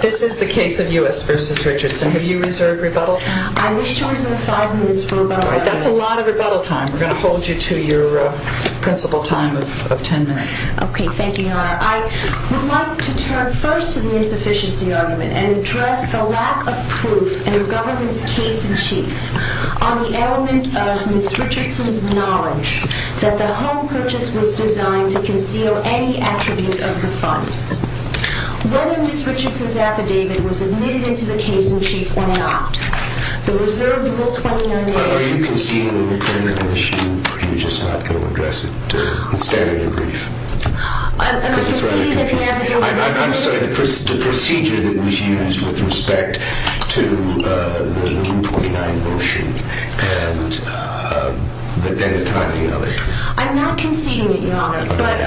This is the case of U.S. v. Richardson. Have you reserved rebuttal? I wish to reserve five minutes for rebuttal. That's a lot of rebuttal time. We're going to hold you to your principal time of ten minutes. Okay, thank you, Your Honor. I would like to turn first to the insufficiency argument and address the lack of proof in the government's case in chief on the element of Ms. Richardson's knowledge that the home purchase was designed to conceal any attribute of the funds. Whether Ms. Richardson's affidavit was admitted into the case in chief or not, the reserved Rule 29 motion... Are you conceding a recurrent issue, or are you just not going to address it? Stand on your brief. I'm conceding that the affidavit... I'm sorry, the procedure that was used with respect to the Rule 29 motion and the timing of it. I'm not conceding it, Your Honor, but...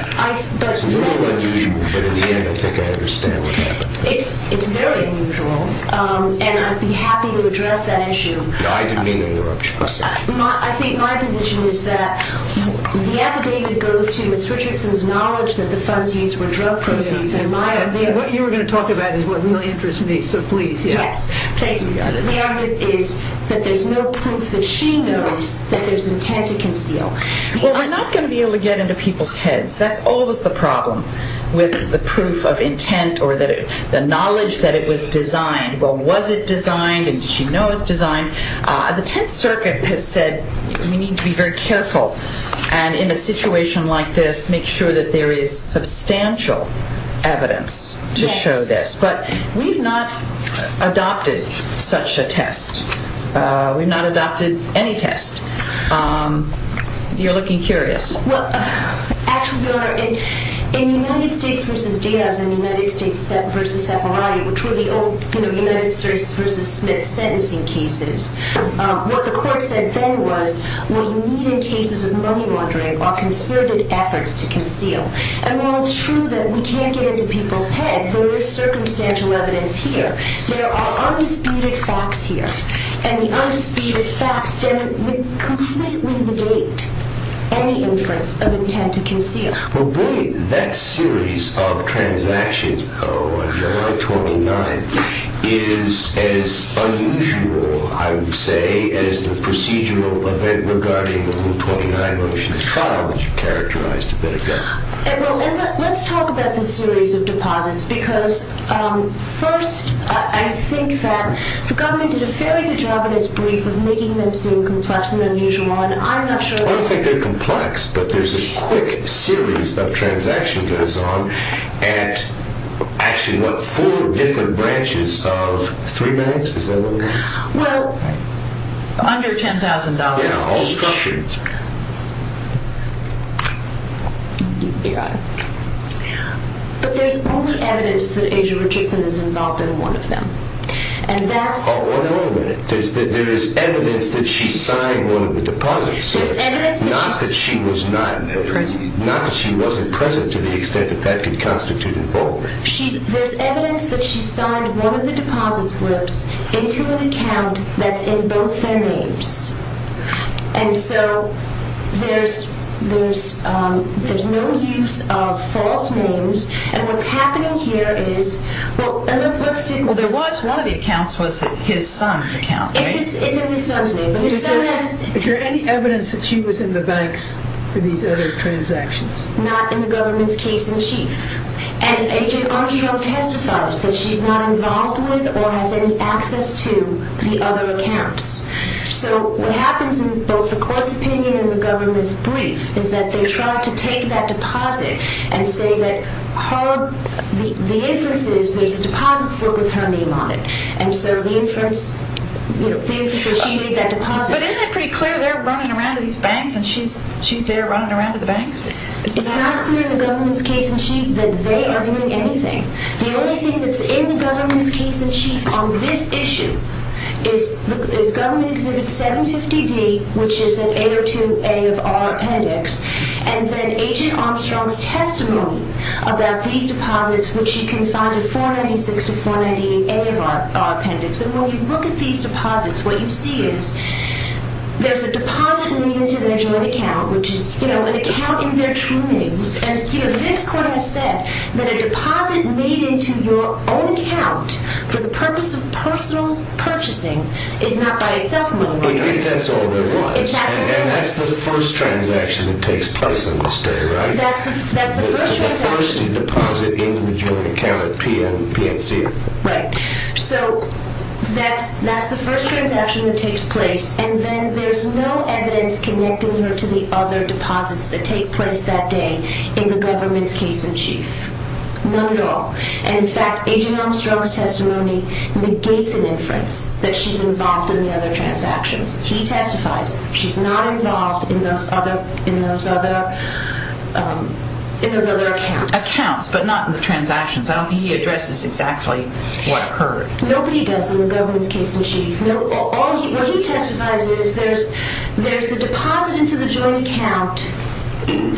It's a little unusual, but in the end, I think I understand what happened. It's very unusual, and I'd be happy to address that issue. I didn't mean to interrupt you. I think my position is that the affidavit goes to Ms. Richardson's knowledge that the funds used were drug proceeds, and my opinion... What you were going to talk about is what really interests me, so please. Yes, thank you, Your Honor. The argument is that there's no proof that she knows that there's intent to conceal. Well, we're not going to be able to get into people's heads. That's always the problem with the proof of intent or the knowledge that it was designed. Well, was it designed, and did she know it was designed? The Tenth Circuit has said we need to be very careful, and in a situation like this, make sure that there is substantial evidence to show this, but we've not adopted such a test. We've not adopted any test. You're looking curious. Well, actually, Your Honor, in United States v. Daz and United States v. Separatis, which were the old United States v. Smith sentencing cases, what the court said then was, what you need in cases of money laundering are concerted efforts to conceal. And while it's true that we can't get into people's heads, there is circumstantial evidence here. There are undisputed facts here, and the undisputed facts completely negate any inference of intent to conceal. Well, that series of transactions, though, on July 29th is as unusual, I would say, as the procedural event regarding the July 29 motion to trial, which you characterized a bit ago. Well, let's talk about this series of deposits, because first, I think that the government did a fairly good job in its brief of making them seem complex and unusual, and I'm not sure that... I don't think they're complex, but there's a quick series of transactions that goes on at actually, what, four different branches of three banks? Is that what it is? Well, under $10,000 each. Yeah, all structured. But there's only evidence that Asia Richardson is involved in one of them, and that's... Oh, wait a minute. There's evidence that she signed one of the deposit slips, not that she wasn't present to the extent that that could constitute involvement. There's evidence that she signed one of the deposit slips into an account that's in both their names, and so there's no use of false names, and what's happening here is... Well, there was one of the accounts was his son's account, right? It's in his son's name, but his son has... Is there any evidence that she was in the banks for these other transactions? Not in the government's case in chief, and Agent Armstrong testifies that she's not involved with or has any access to the other accounts. So what happens in both the court's opinion and the government's brief is that they try to take that deposit and say that the inference is there's a deposit slip with her name on it, and so the inference is she made that deposit. But isn't it pretty clear they're running around to these banks and she's there running around to the banks? It's not clear in the government's case in chief that they are doing anything. The only thing that's in the government's case in chief on this issue is government Exhibit 750D, which is an 802A of our appendix, and then Agent Armstrong's testimony about these deposits, which you can find at 496-498A of our appendix, and when you look at these deposits, what you see is there's a deposit leading to their joint account, which is, you know, an account in their true names, and, you know, this court has said that a deposit made into your own account for the purpose of personal purchasing is not by itself money laundering. If that's all there was. If that's all there was. And that's the first transaction that takes place on this day, right? That's the first transaction. That's the first deposit in the joint account at PNC. Right. So that's the first transaction that takes place, and then there's no evidence connecting her to the other deposits that take place that day in the government's case in chief. None at all. And, in fact, Agent Armstrong's testimony negates an inference that she's involved in the other transactions. He testifies she's not involved in those other accounts. Accounts, but not in the transactions. I don't think he addresses exactly what occurred. Nobody does in the government's case in chief. What he testifies is there's the deposit into the joint account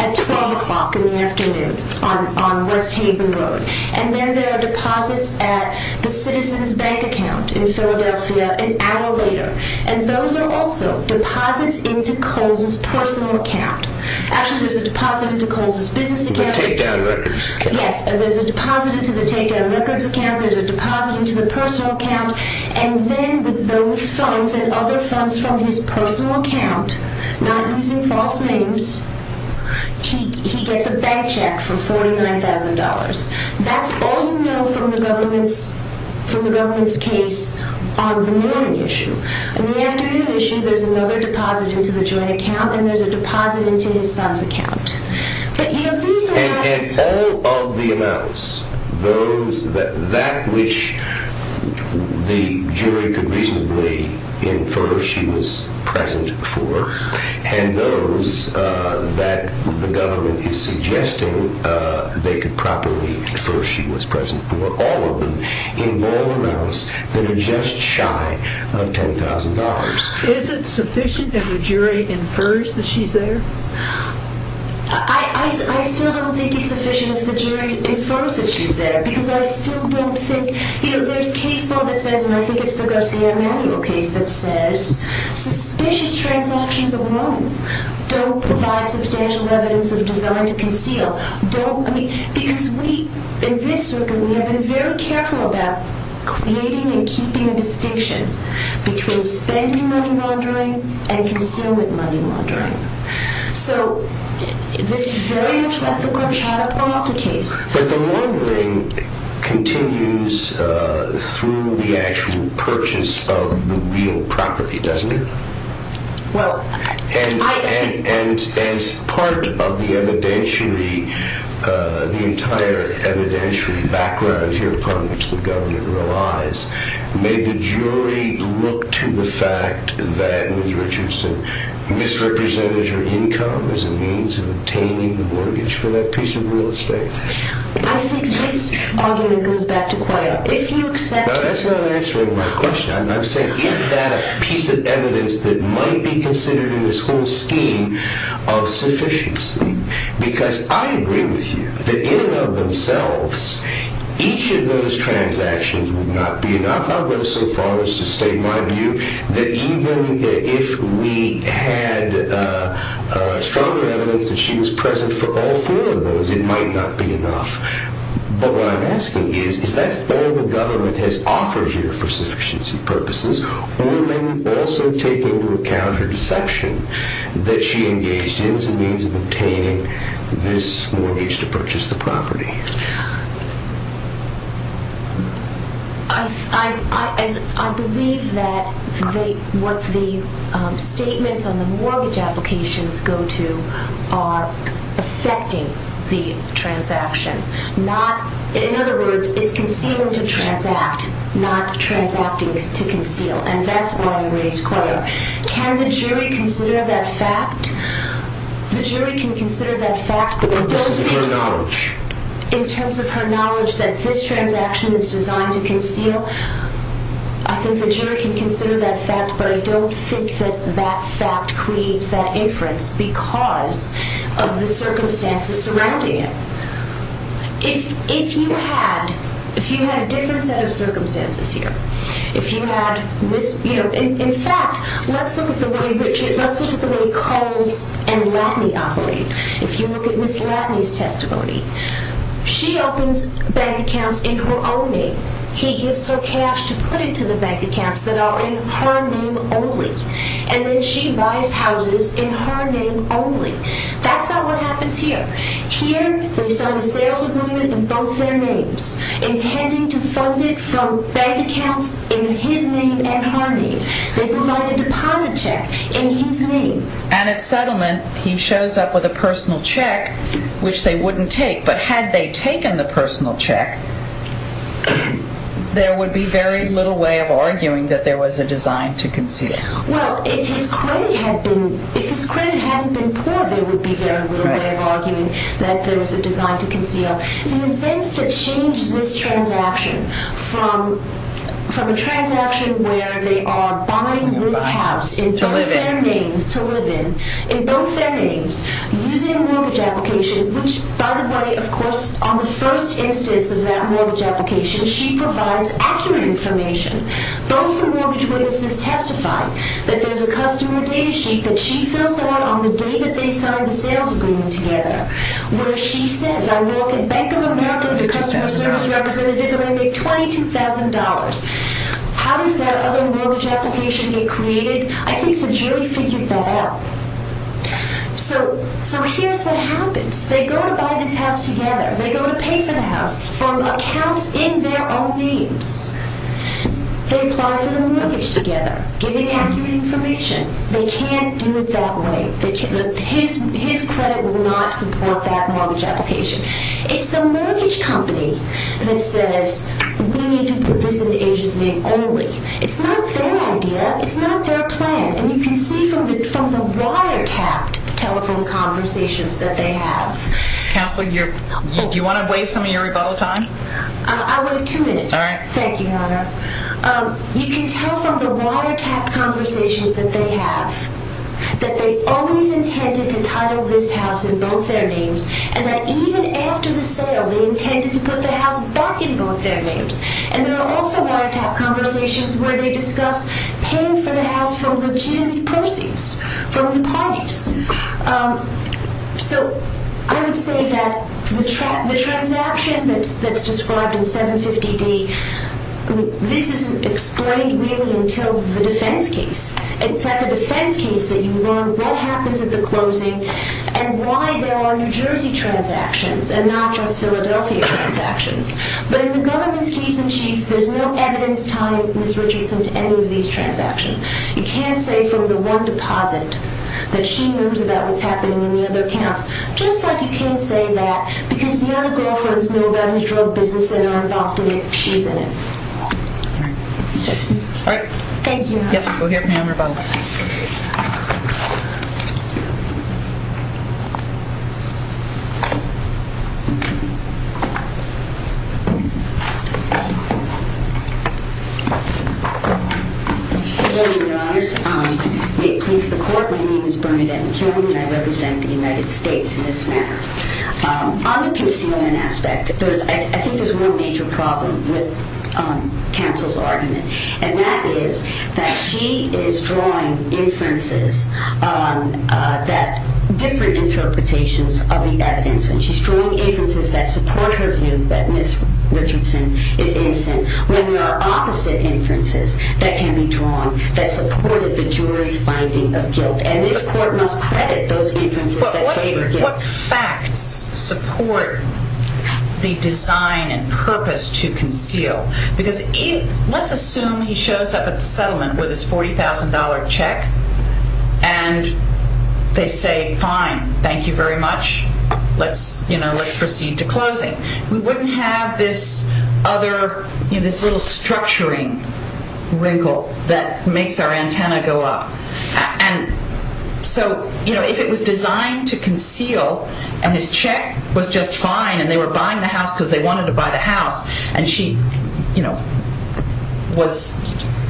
at 12 o'clock in the afternoon on West Haven Road, and then there are deposits at the Citizens Bank account in Philadelphia an hour later, and those are also deposits into Coles's personal account. Actually, there's a deposit into Coles's business account. The takedown records account. Yes, and there's a deposit into the takedown records account. There's a deposit into the personal account. And then with those funds and other funds from his personal account, not using false names, he gets a bank check for $49,000. That's all you know from the government's case on the morning issue. On the afternoon issue, there's another deposit into the joint account, and there's a deposit into his son's account. And all of the amounts, that which the jury could reasonably infer she was present for, and those that the government is suggesting they could properly infer she was present for, all of them involve amounts that are just shy of $10,000. Is it sufficient if the jury infers that she's there? I still don't think it's sufficient if the jury infers that she's there, because I still don't think, you know, there's case law that says, and I think it's the Garcia-Emanuel case that says, suspicious transactions alone don't provide substantial evidence of design to conceal. Don't, I mean, because we, in this circuit, we have been very careful about creating and keeping a distinction between spending money laundering and concealment money laundering. So, this is very much like the Guarchado-Peralta case. But the laundering continues through the actual purchase of the real property, doesn't it? Well, I... And as part of the evidentiary, the entire evidentiary background here upon which the government relies, made the jury look to the fact that Ms. Richardson misrepresented her income as a means of obtaining the mortgage for that piece of real estate. I think this argument goes back to Coyote. If you accept... Now, that's not answering my question. I'm saying, is that a piece of evidence that might be considered in this whole scheme of sufficiency? Because I agree with you that in and of themselves, each of those transactions would not be enough. I'll go so far as to state my view that even if we had stronger evidence that she was present for all four of those, it might not be enough. But what I'm asking is, is that all the government has offered here for sufficiency purposes? Or may we also take into account her deception that she engaged in as a means of obtaining this mortgage to purchase the property? I believe that what the statements on the mortgage applications go to are affecting the transaction. In other words, it's concealing to transact, not transacting to conceal. And that's why I raised Coyote. Can the jury consider that fact? The jury can consider that fact... But this is her knowledge. In terms of her knowledge that this transaction is designed to conceal, I think the jury can consider that fact, but I don't think that that fact creates that inference because of the circumstances surrounding it. If you had a different set of circumstances here... In fact, let's look at the way Culls and Latney operate. If you look at Ms. Latney's testimony, she opens bank accounts in her own name. He gives her cash to put into the bank accounts that are in her name only. And then she buys houses in her name only. That's not what happens here. Here, they sign a sales agreement in both their names, intending to fund it from bank accounts in his name and her name. They provide a deposit check in his name. And at settlement, he shows up with a personal check, which they wouldn't take. But had they taken the personal check, there would be very little way of arguing that there was a design to conceal. Well, if his credit hadn't been poor, there would be very little way of arguing that there was a design to conceal. The events that change this transaction from a transaction where they are buying this house in both their names to live in, in both their names, using a mortgage application, which, by the way, of course, on the first instance of that mortgage application, she provides accurate information. Both the mortgage witnesses testify that there's a customer data sheet that she fills out on the day that they sign the sales agreement together, where she says, I walk in, Bank of America is a customer service representative. I make $22,000. How does that other mortgage application get created? I think the jury figured that out. So here's what happens. They go to buy this house together. They go to pay for the house from accounts in their own names. They apply for the mortgage together, giving accurate information. They can't do it that way. His credit will not support that mortgage application. It's the mortgage company that says, we need to put this in Asia's name only. It's not their idea. It's not their plan. And you can see from the wiretapped telephone conversations that they have. Counselor, do you want to waive some of your rebuttal time? I would have two minutes. All right. Thank you, Your Honor. You can tell from the wiretapped conversations that they have that they always intended to title this house in both their names and that even after the sale, they intended to put the house back in both their names. And there are also wiretapped conversations where they discuss paying for the house from legitimate proceeds from the parties. So I would say that the transaction that's described in 750D, this isn't explained really until the defense case. It's at the defense case that you learn what happens at the closing and why there are New Jersey transactions and not just Philadelphia transactions. But in the government's case in chief, there's no evidence tying Ms. Richardson to any of these transactions. You can't say from the one deposit that she knows about what's happening in the other accounts, just like you can't say that because the other girlfriends know about his drug business and are involved in it. She's in it. All right. Thank you, Your Honor. Yes, go ahead, ma'am, or both. Good morning, Your Honors. May it please the Court, my name is Bernadette McKeown and I represent the United States in this matter. On the concealment aspect, I think there's one major problem with counsel's argument and that is that she is drawing inferences that different interpretations of the evidence and she's drawing inferences that support her view that Ms. Richardson is innocent when there are opposite inferences that can be drawn that support the jury's finding of guilt and this Court must credit those inferences that favor guilt. But what facts support the design and purpose to conceal? Because let's assume he shows up at the settlement with his $40,000 check and they say, fine, thank you very much, let's proceed to closing. We wouldn't have this other, you know, this little structuring wrinkle that makes our antenna go up. And so, you know, if it was designed to conceal and his check was just fine and they were buying the house because they wanted to buy the house and she, you know, was,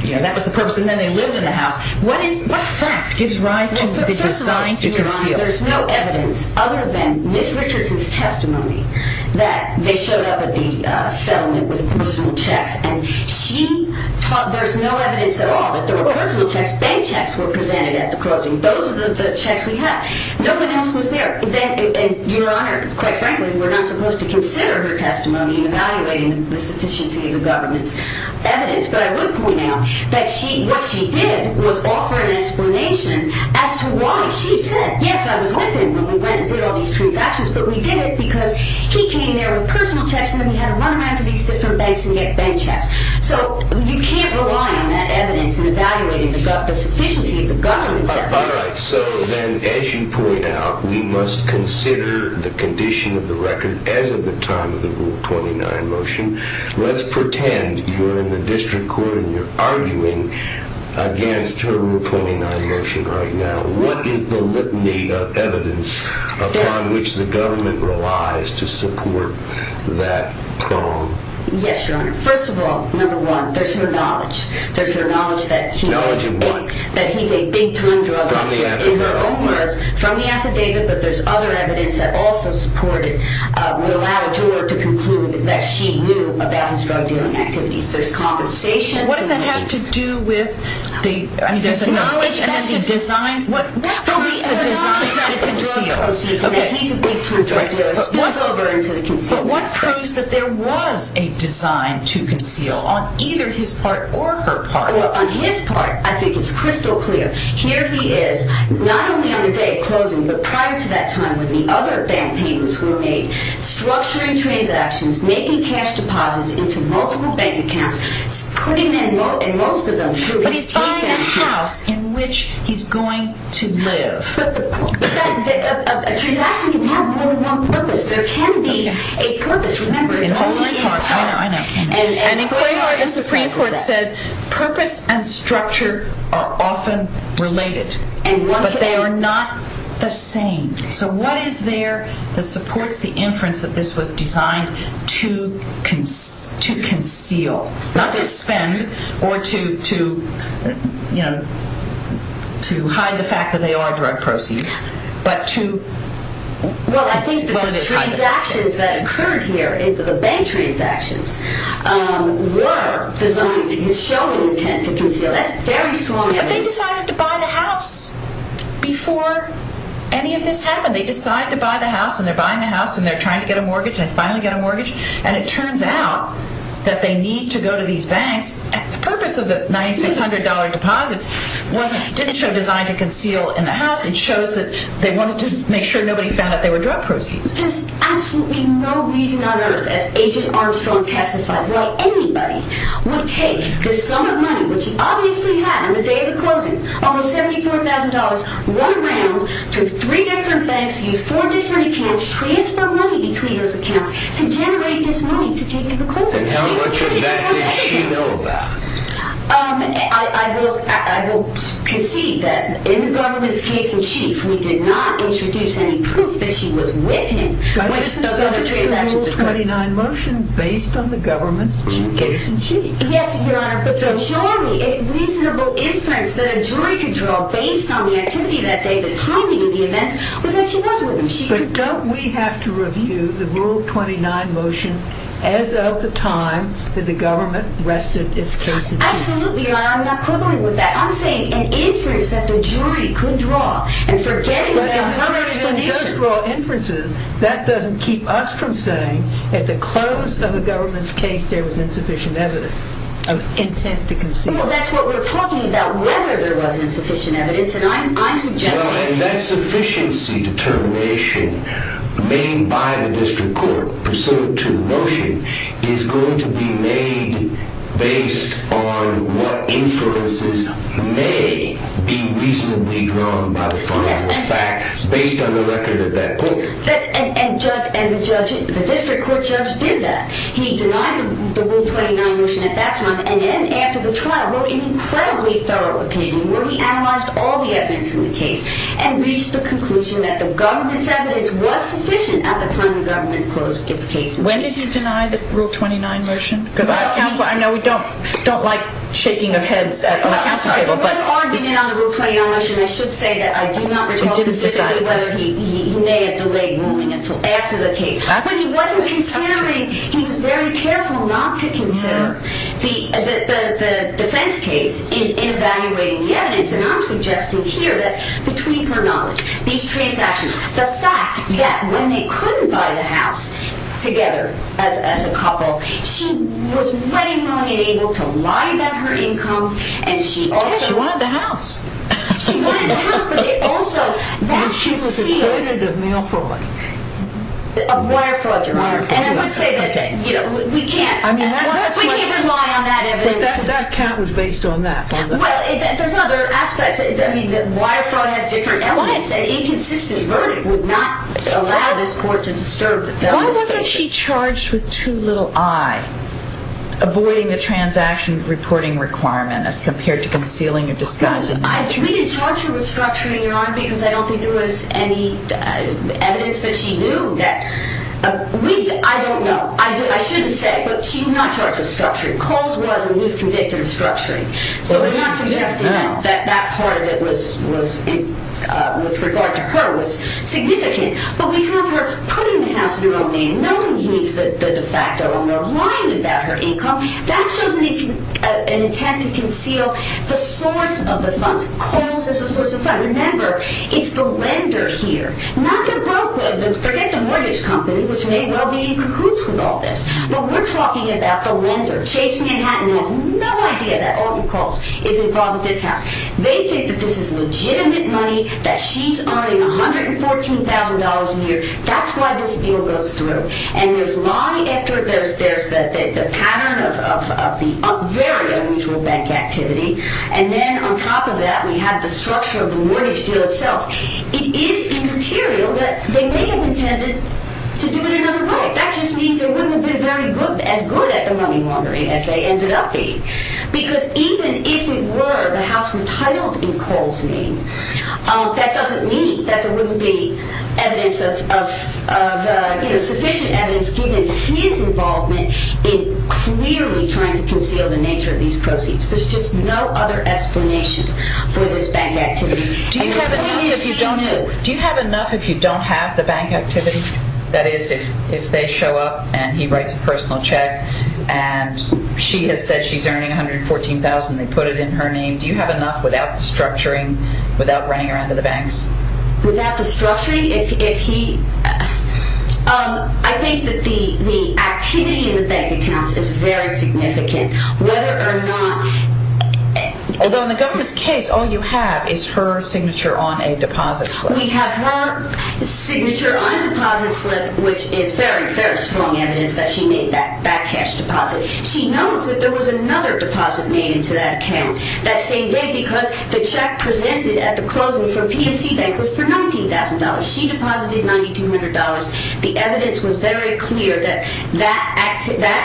you know, that was the purpose and then they lived in the house, what fact gives rise to the design to conceal? Well, first of all, Your Honor, there's no evidence other than Ms. Richardson's testimony that they showed up at the settlement with personal checks and there's no evidence at all that there were personal checks. Bank checks were presented at the closing. Those are the checks we had. No one else was there. And Your Honor, quite frankly, we're not supposed to consider her testimony in evaluating the sufficiency of the government's evidence. But I would point out that what she did was offer an explanation as to why she said, yes, I was with him when we went and did all these transactions, but we did it because he came there with personal checks and then we had to run around to these different banks and get bank checks. So you can't rely on that evidence in evaluating the sufficiency of the government's evidence. All right, so then as you point out, we must consider the condition of the record as of the time of the Rule 29 motion. Let's pretend you're in the district court and you're arguing against her Rule 29 motion right now. What is the litany of evidence upon which the government relies to support that bond? Yes, Your Honor. First of all, number one, there's her knowledge. There's her knowledge that he's a big-time drug dealer. In her own words, from the affidavit, but there's other evidence that also support it would allow a juror to conclude that she knew about his drug-dealing activities. There's compensation. What does that have to do with the knowledge and then the design? What proves a design to conceal? He's a big-time drug dealer. What proves that there was a design to conceal on either his part or her part? Well, on his part, I think it's crystal clear. Here he is, not only on the day of closing, but prior to that time when the other bank papers were made, structuring transactions, making cash deposits into multiple bank accounts, putting most of them through his teeth. He's buying a house in which he's going to live. But a transaction can have more than one purpose. There can be a purpose. Remember, it's only in court. I know, I know. An inquiry in the Supreme Court said purpose and structure are often related, but they are not the same. So what is there that supports the inference that this was designed to conceal, not to spend or to, you know, to hide the fact that they are drug proceeds, but to... Well, I think the transactions that occurred here, the bank transactions, were designed to show an intent to conceal. That's very strong evidence. But they decided to buy the house before any of this happened. They decide to buy the house, and they're buying the house, and they're trying to get a mortgage, and finally get a mortgage, and it turns out that they need to go to these banks. The purpose of the $9,600 deposits didn't show design to conceal in the house. It shows that they wanted to make sure nobody found out they were drug proceeds. There's absolutely no reason on earth, as Agent Armstrong testified, why anybody would take the sum of money, which he obviously had on the day of the closing, all the $74,000, one round, to three different banks, use four different accounts, transfer money between those accounts to generate this money to take to the closing. And how much of that did she know about? I will concede that, in the government's case-in-chief, we did not introduce any proof that she was with him. But isn't the Rule 29 motion based on the government's case-in-chief? Yes, Your Honor. So showing me a reasonable inference that a jury could draw based on the activity that day, the timing of the events, was that she was with him. But don't we have to review the Rule 29 motion as of the time that the government rested its case-in-chief? Absolutely, Your Honor. I'm not quibbling with that. I'm saying an inference that the jury could draw, and forgetting about the jury's explanation. But if the jury can just draw inferences, that doesn't keep us from saying at the close of a government's case there was insufficient evidence of intent to conceal. Well, that's what we're talking about, whether there was insufficient evidence, and I'm suggesting... Well, and that sufficiency determination made by the district court pursuant to the motion is going to be made based on what inferences may be reasonably drawn by the final fact based on the record of that court. And the district court judge did that. He denied the Rule 29 motion at that time, and then after the trial wrote an incredibly thorough opinion where he analyzed all the evidence in the case and reached the conclusion that the government's evidence was sufficient at the time the government closed its case-in-chief. When did he deny the Rule 29 motion? Because I know we don't like shaking of heads on the counsel table, but... Before arguing on the Rule 29 motion, I should say that I do not recall specifically whether he may have delayed ruling until after the case. But he wasn't considering... He was very careful not to consider the defense case in evaluating the evidence, and I'm suggesting here that between her knowledge, these transactions, the fact that when they couldn't buy the house together as a couple, she was ready, willing, and able to lie about her income, and she also... Yes, she wanted the house. She wanted the house, but they also... She was afraid of male fraud. Of wire fraud, Your Honor. And I would say that we can't... We can't rely on that evidence. But that count was based on that. Well, there's other aspects. Wire fraud has different elements. An inconsistent verdict would not allow this court to disturb the justice basis. Why wasn't she charged with too little eye, avoiding the transaction reporting requirement as compared to concealing or disguising? We did charge her with structuring, Your Honor, because I don't think there was any evidence that she knew that... I don't know. I shouldn't say, but she was not charged with structuring. Coles was, and he was convicted of structuring. So we're not suggesting that that part of it with regard to her was significant. But because we're putting the house in her name, knowing he's the de facto owner, lying about her income, that shows an intent to conceal the source of the funds. Coles is the source of the funds. Remember, it's the lender here, not the broker. Forget the mortgage company, which may well be in cahoots with all this. But we're talking about the lender. Chase Manhattan has no idea that Alton Coles is involved with this house. They think that this is legitimate money, that she's earning $114,000 a year. That's why this deal goes through. And there's the pattern of the very unusual bank activity. And then on top of that, we have the structure of the mortgage deal itself. It is immaterial that they may have intended to do it another way. That just means they wouldn't have been as good at the money laundering as they ended up being. Because even if it were the house retitled in Coles' name, that doesn't mean that there wouldn't be sufficient evidence given his involvement in clearly trying to conceal the nature of these proceeds. There's just no other explanation for this bank activity. Do you have enough if you don't have the bank activity? That is, if they show up and he writes a personal check and she has said she's earning $114,000 and they put it in her name, do you have enough without the structuring, without running around to the banks? Without the structuring, if he... I think that the activity in the bank accounts is very significant. Whether or not... Although in the government's case, all you have is her signature on a deposit slip. We have her signature on a deposit slip which is very, very strong evidence that she made that cash deposit. She knows that there was another deposit made into that account that same day because the check presented at the closing from PNC Bank was for $19,000. She deposited $9,200. The evidence was very clear that that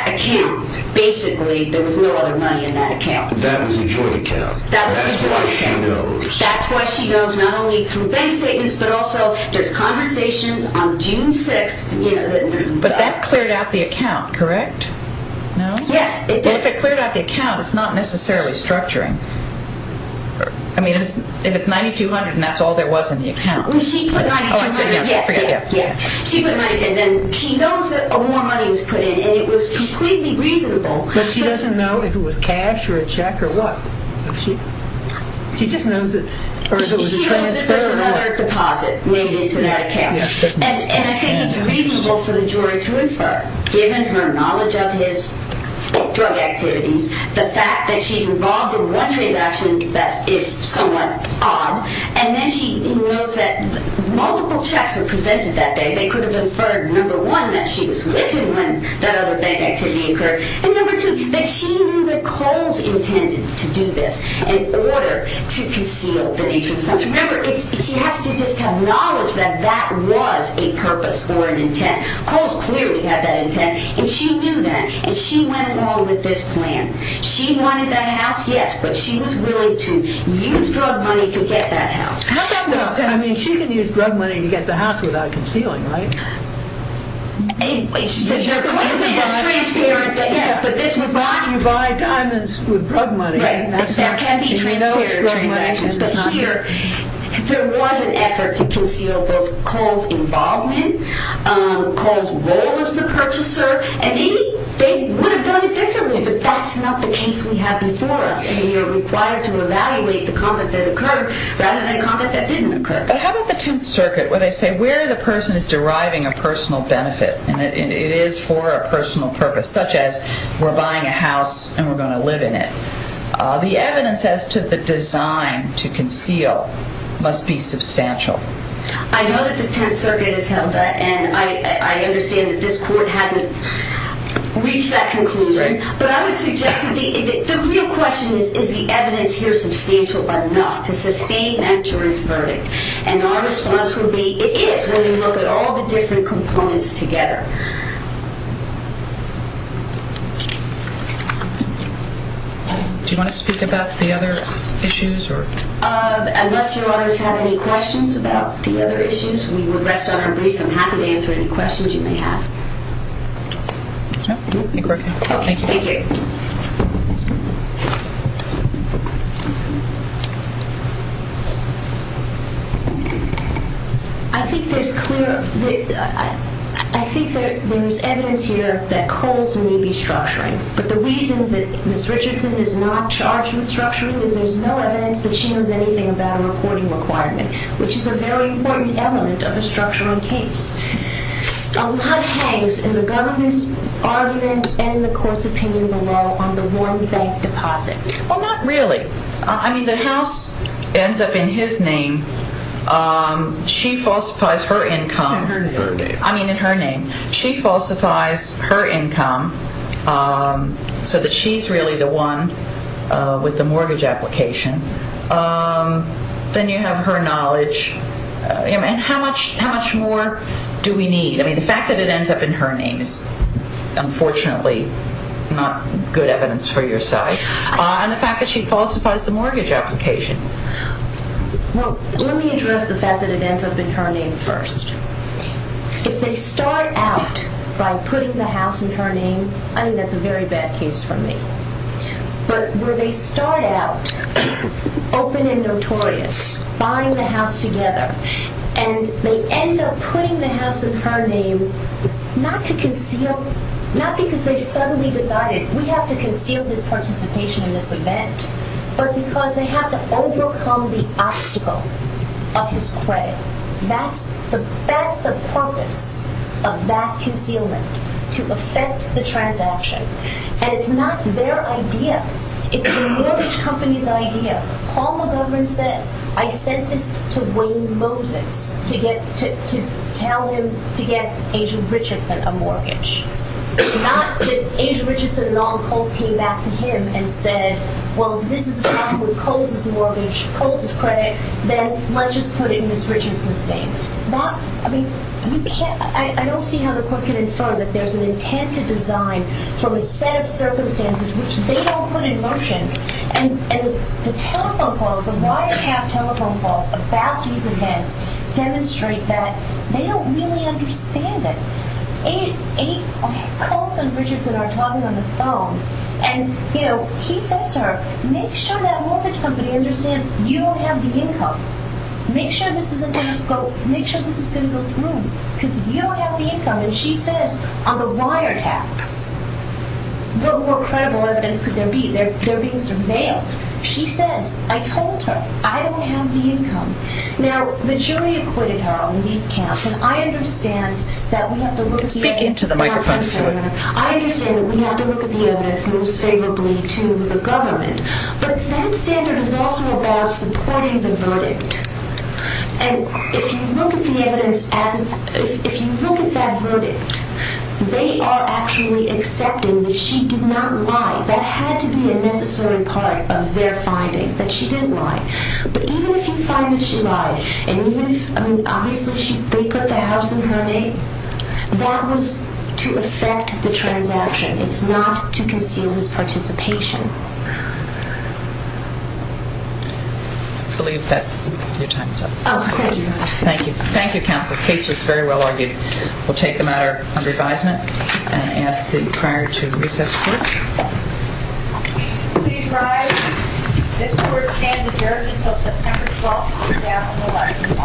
account, basically, there was no other money in that account. That was a joint account. That was a joint account. That's why she knows. That's why she knows not only through bank statements but also there's conversations on June 6th. But that cleared out the account, correct? No? Yes, it did. If it cleared out the account, it's not necessarily structuring. I mean, if it's $9,200 and that's all there was in the account. When she put $9,200... Oh, I'm sorry. Yeah, yeah, yeah. She put $9,200 and then she knows that more money was put in and it was completely reasonable. But she doesn't know if it was cash or a check or what. She just knows that... She knows that there's another deposit made into that account. And I think it's reasonable for the jury to infer, given her knowledge of his drug activities, the fact that she's involved in one transaction that is somewhat odd and then she knows that multiple checks were presented that day. They could have inferred, number one, that she was with him when that other bank activity occurred and, number two, that she knew that Coles intended to do this in order to conceal the nature of the funds. Remember, she has to just have knowledge that that was a purpose or an intent. Coles clearly had that intent and she knew that and she went along with this plan. She wanted that house, yes, but she was willing to use drug money to get that house. No, no, no. I mean, she can use drug money to get the house without concealing, right? They're clearly not transparent, but yes, but this was not... You buy diamonds with drug money. Right. There can be transparent transactions, but here there was an effort to conceal both Coles' involvement, Coles' role as the purchaser, and maybe they would have done it differently, but that's not the case we have before us and we are required to evaluate the conduct that occurred rather than a conduct that didn't occur. But how about the Tenth Circuit where they say where the person is deriving a personal benefit and it is for a personal purpose, such as we're buying a house and we're going to live in it. The evidence as to the design to conceal must be substantial. I know that the Tenth Circuit has held that and I understand that this court hasn't reached that conclusion, but I would suggest that the real question is, is the evidence here substantial enough to sustain that jury's verdict? And our response would be, it is when you look at all the different components together. Do you want to speak about the other issues? Unless Your Honors have any questions about the other issues, we will rest on our brace. I'm happy to answer any questions you may have. I think there's evidence here that Coles may be structuring, but the reason that Ms. Richardson is not charged with structuring is there's no evidence that she knows anything about a reporting requirement, which is a very important element of a structural case. A lot hangs in the government's argument and in the court's opinion below on the Warren Bank deposit. Well, not really. I mean, the house ends up in his name. She falsifies her income. In her name. I mean, in her name. She falsifies her income so that she's really the one with the mortgage application. Then you have her knowledge. And how much more do we need? I mean, the fact that it ends up in her name is unfortunately not good evidence for your side. And the fact that she falsifies the mortgage application. Well, let me address the fact that it ends up in her name first. If they start out by putting the house in her name, I mean, that's a very bad case for me, but where they start out open and notorious, buying the house together, and they end up putting the house in her name not to conceal, not because they suddenly decided we have to conceal his participation in this event, but because they have to overcome the obstacle of his credit. That's the purpose of that concealment, to affect the transaction. And it's not their idea. It's the mortgage company's idea. Paul McGovern says, I sent this to Wayne Moses to tell him to get Asia Richardson a mortgage. It's not that Asia Richardson and all the Coles came back to him and said, well, if this is a problem with Coles' mortgage, Coles' credit, then let's just put it in Ms. Richardson's name. That, I mean, you can't, I don't see how the court can infer that there's an intent to design from a set of circumstances which they don't put in motion. And the telephone calls, the wiretap telephone calls about these events demonstrate that they don't really understand it. Eight Coles and Richardson are talking on the phone, and, you know, he says to her, make sure that mortgage company understands you don't have the income. Make sure this isn't going to go, make sure this is going to go through, because you don't have the income. And she says on the wiretap, what more credible evidence could there be? They're being surveilled. She says, I told her, I don't have the income. Now, the jury acquitted her on these counts, and I understand that we have to look at the evidence. Speak into the microphone, Sue. I understand that we have to look at the evidence most favorably to the government, but that standard is also about supporting the verdict. And if you look at the evidence, if you look at that verdict, they are actually accepting that she did not lie. That had to be a necessary part of their finding, that she didn't lie. But even if you find that she lied, and even if, I mean, obviously, they put the house in her name, that was to affect the transaction. It's not to conceal his participation. I believe that your time is up. Oh, okay. Thank you. Thank you, counsel. The case was very well argued. We'll take the matter under advisement and ask that prior to recess, please. Please rise. This court stands as hearing until September 12, 2011. Wow. Thank you.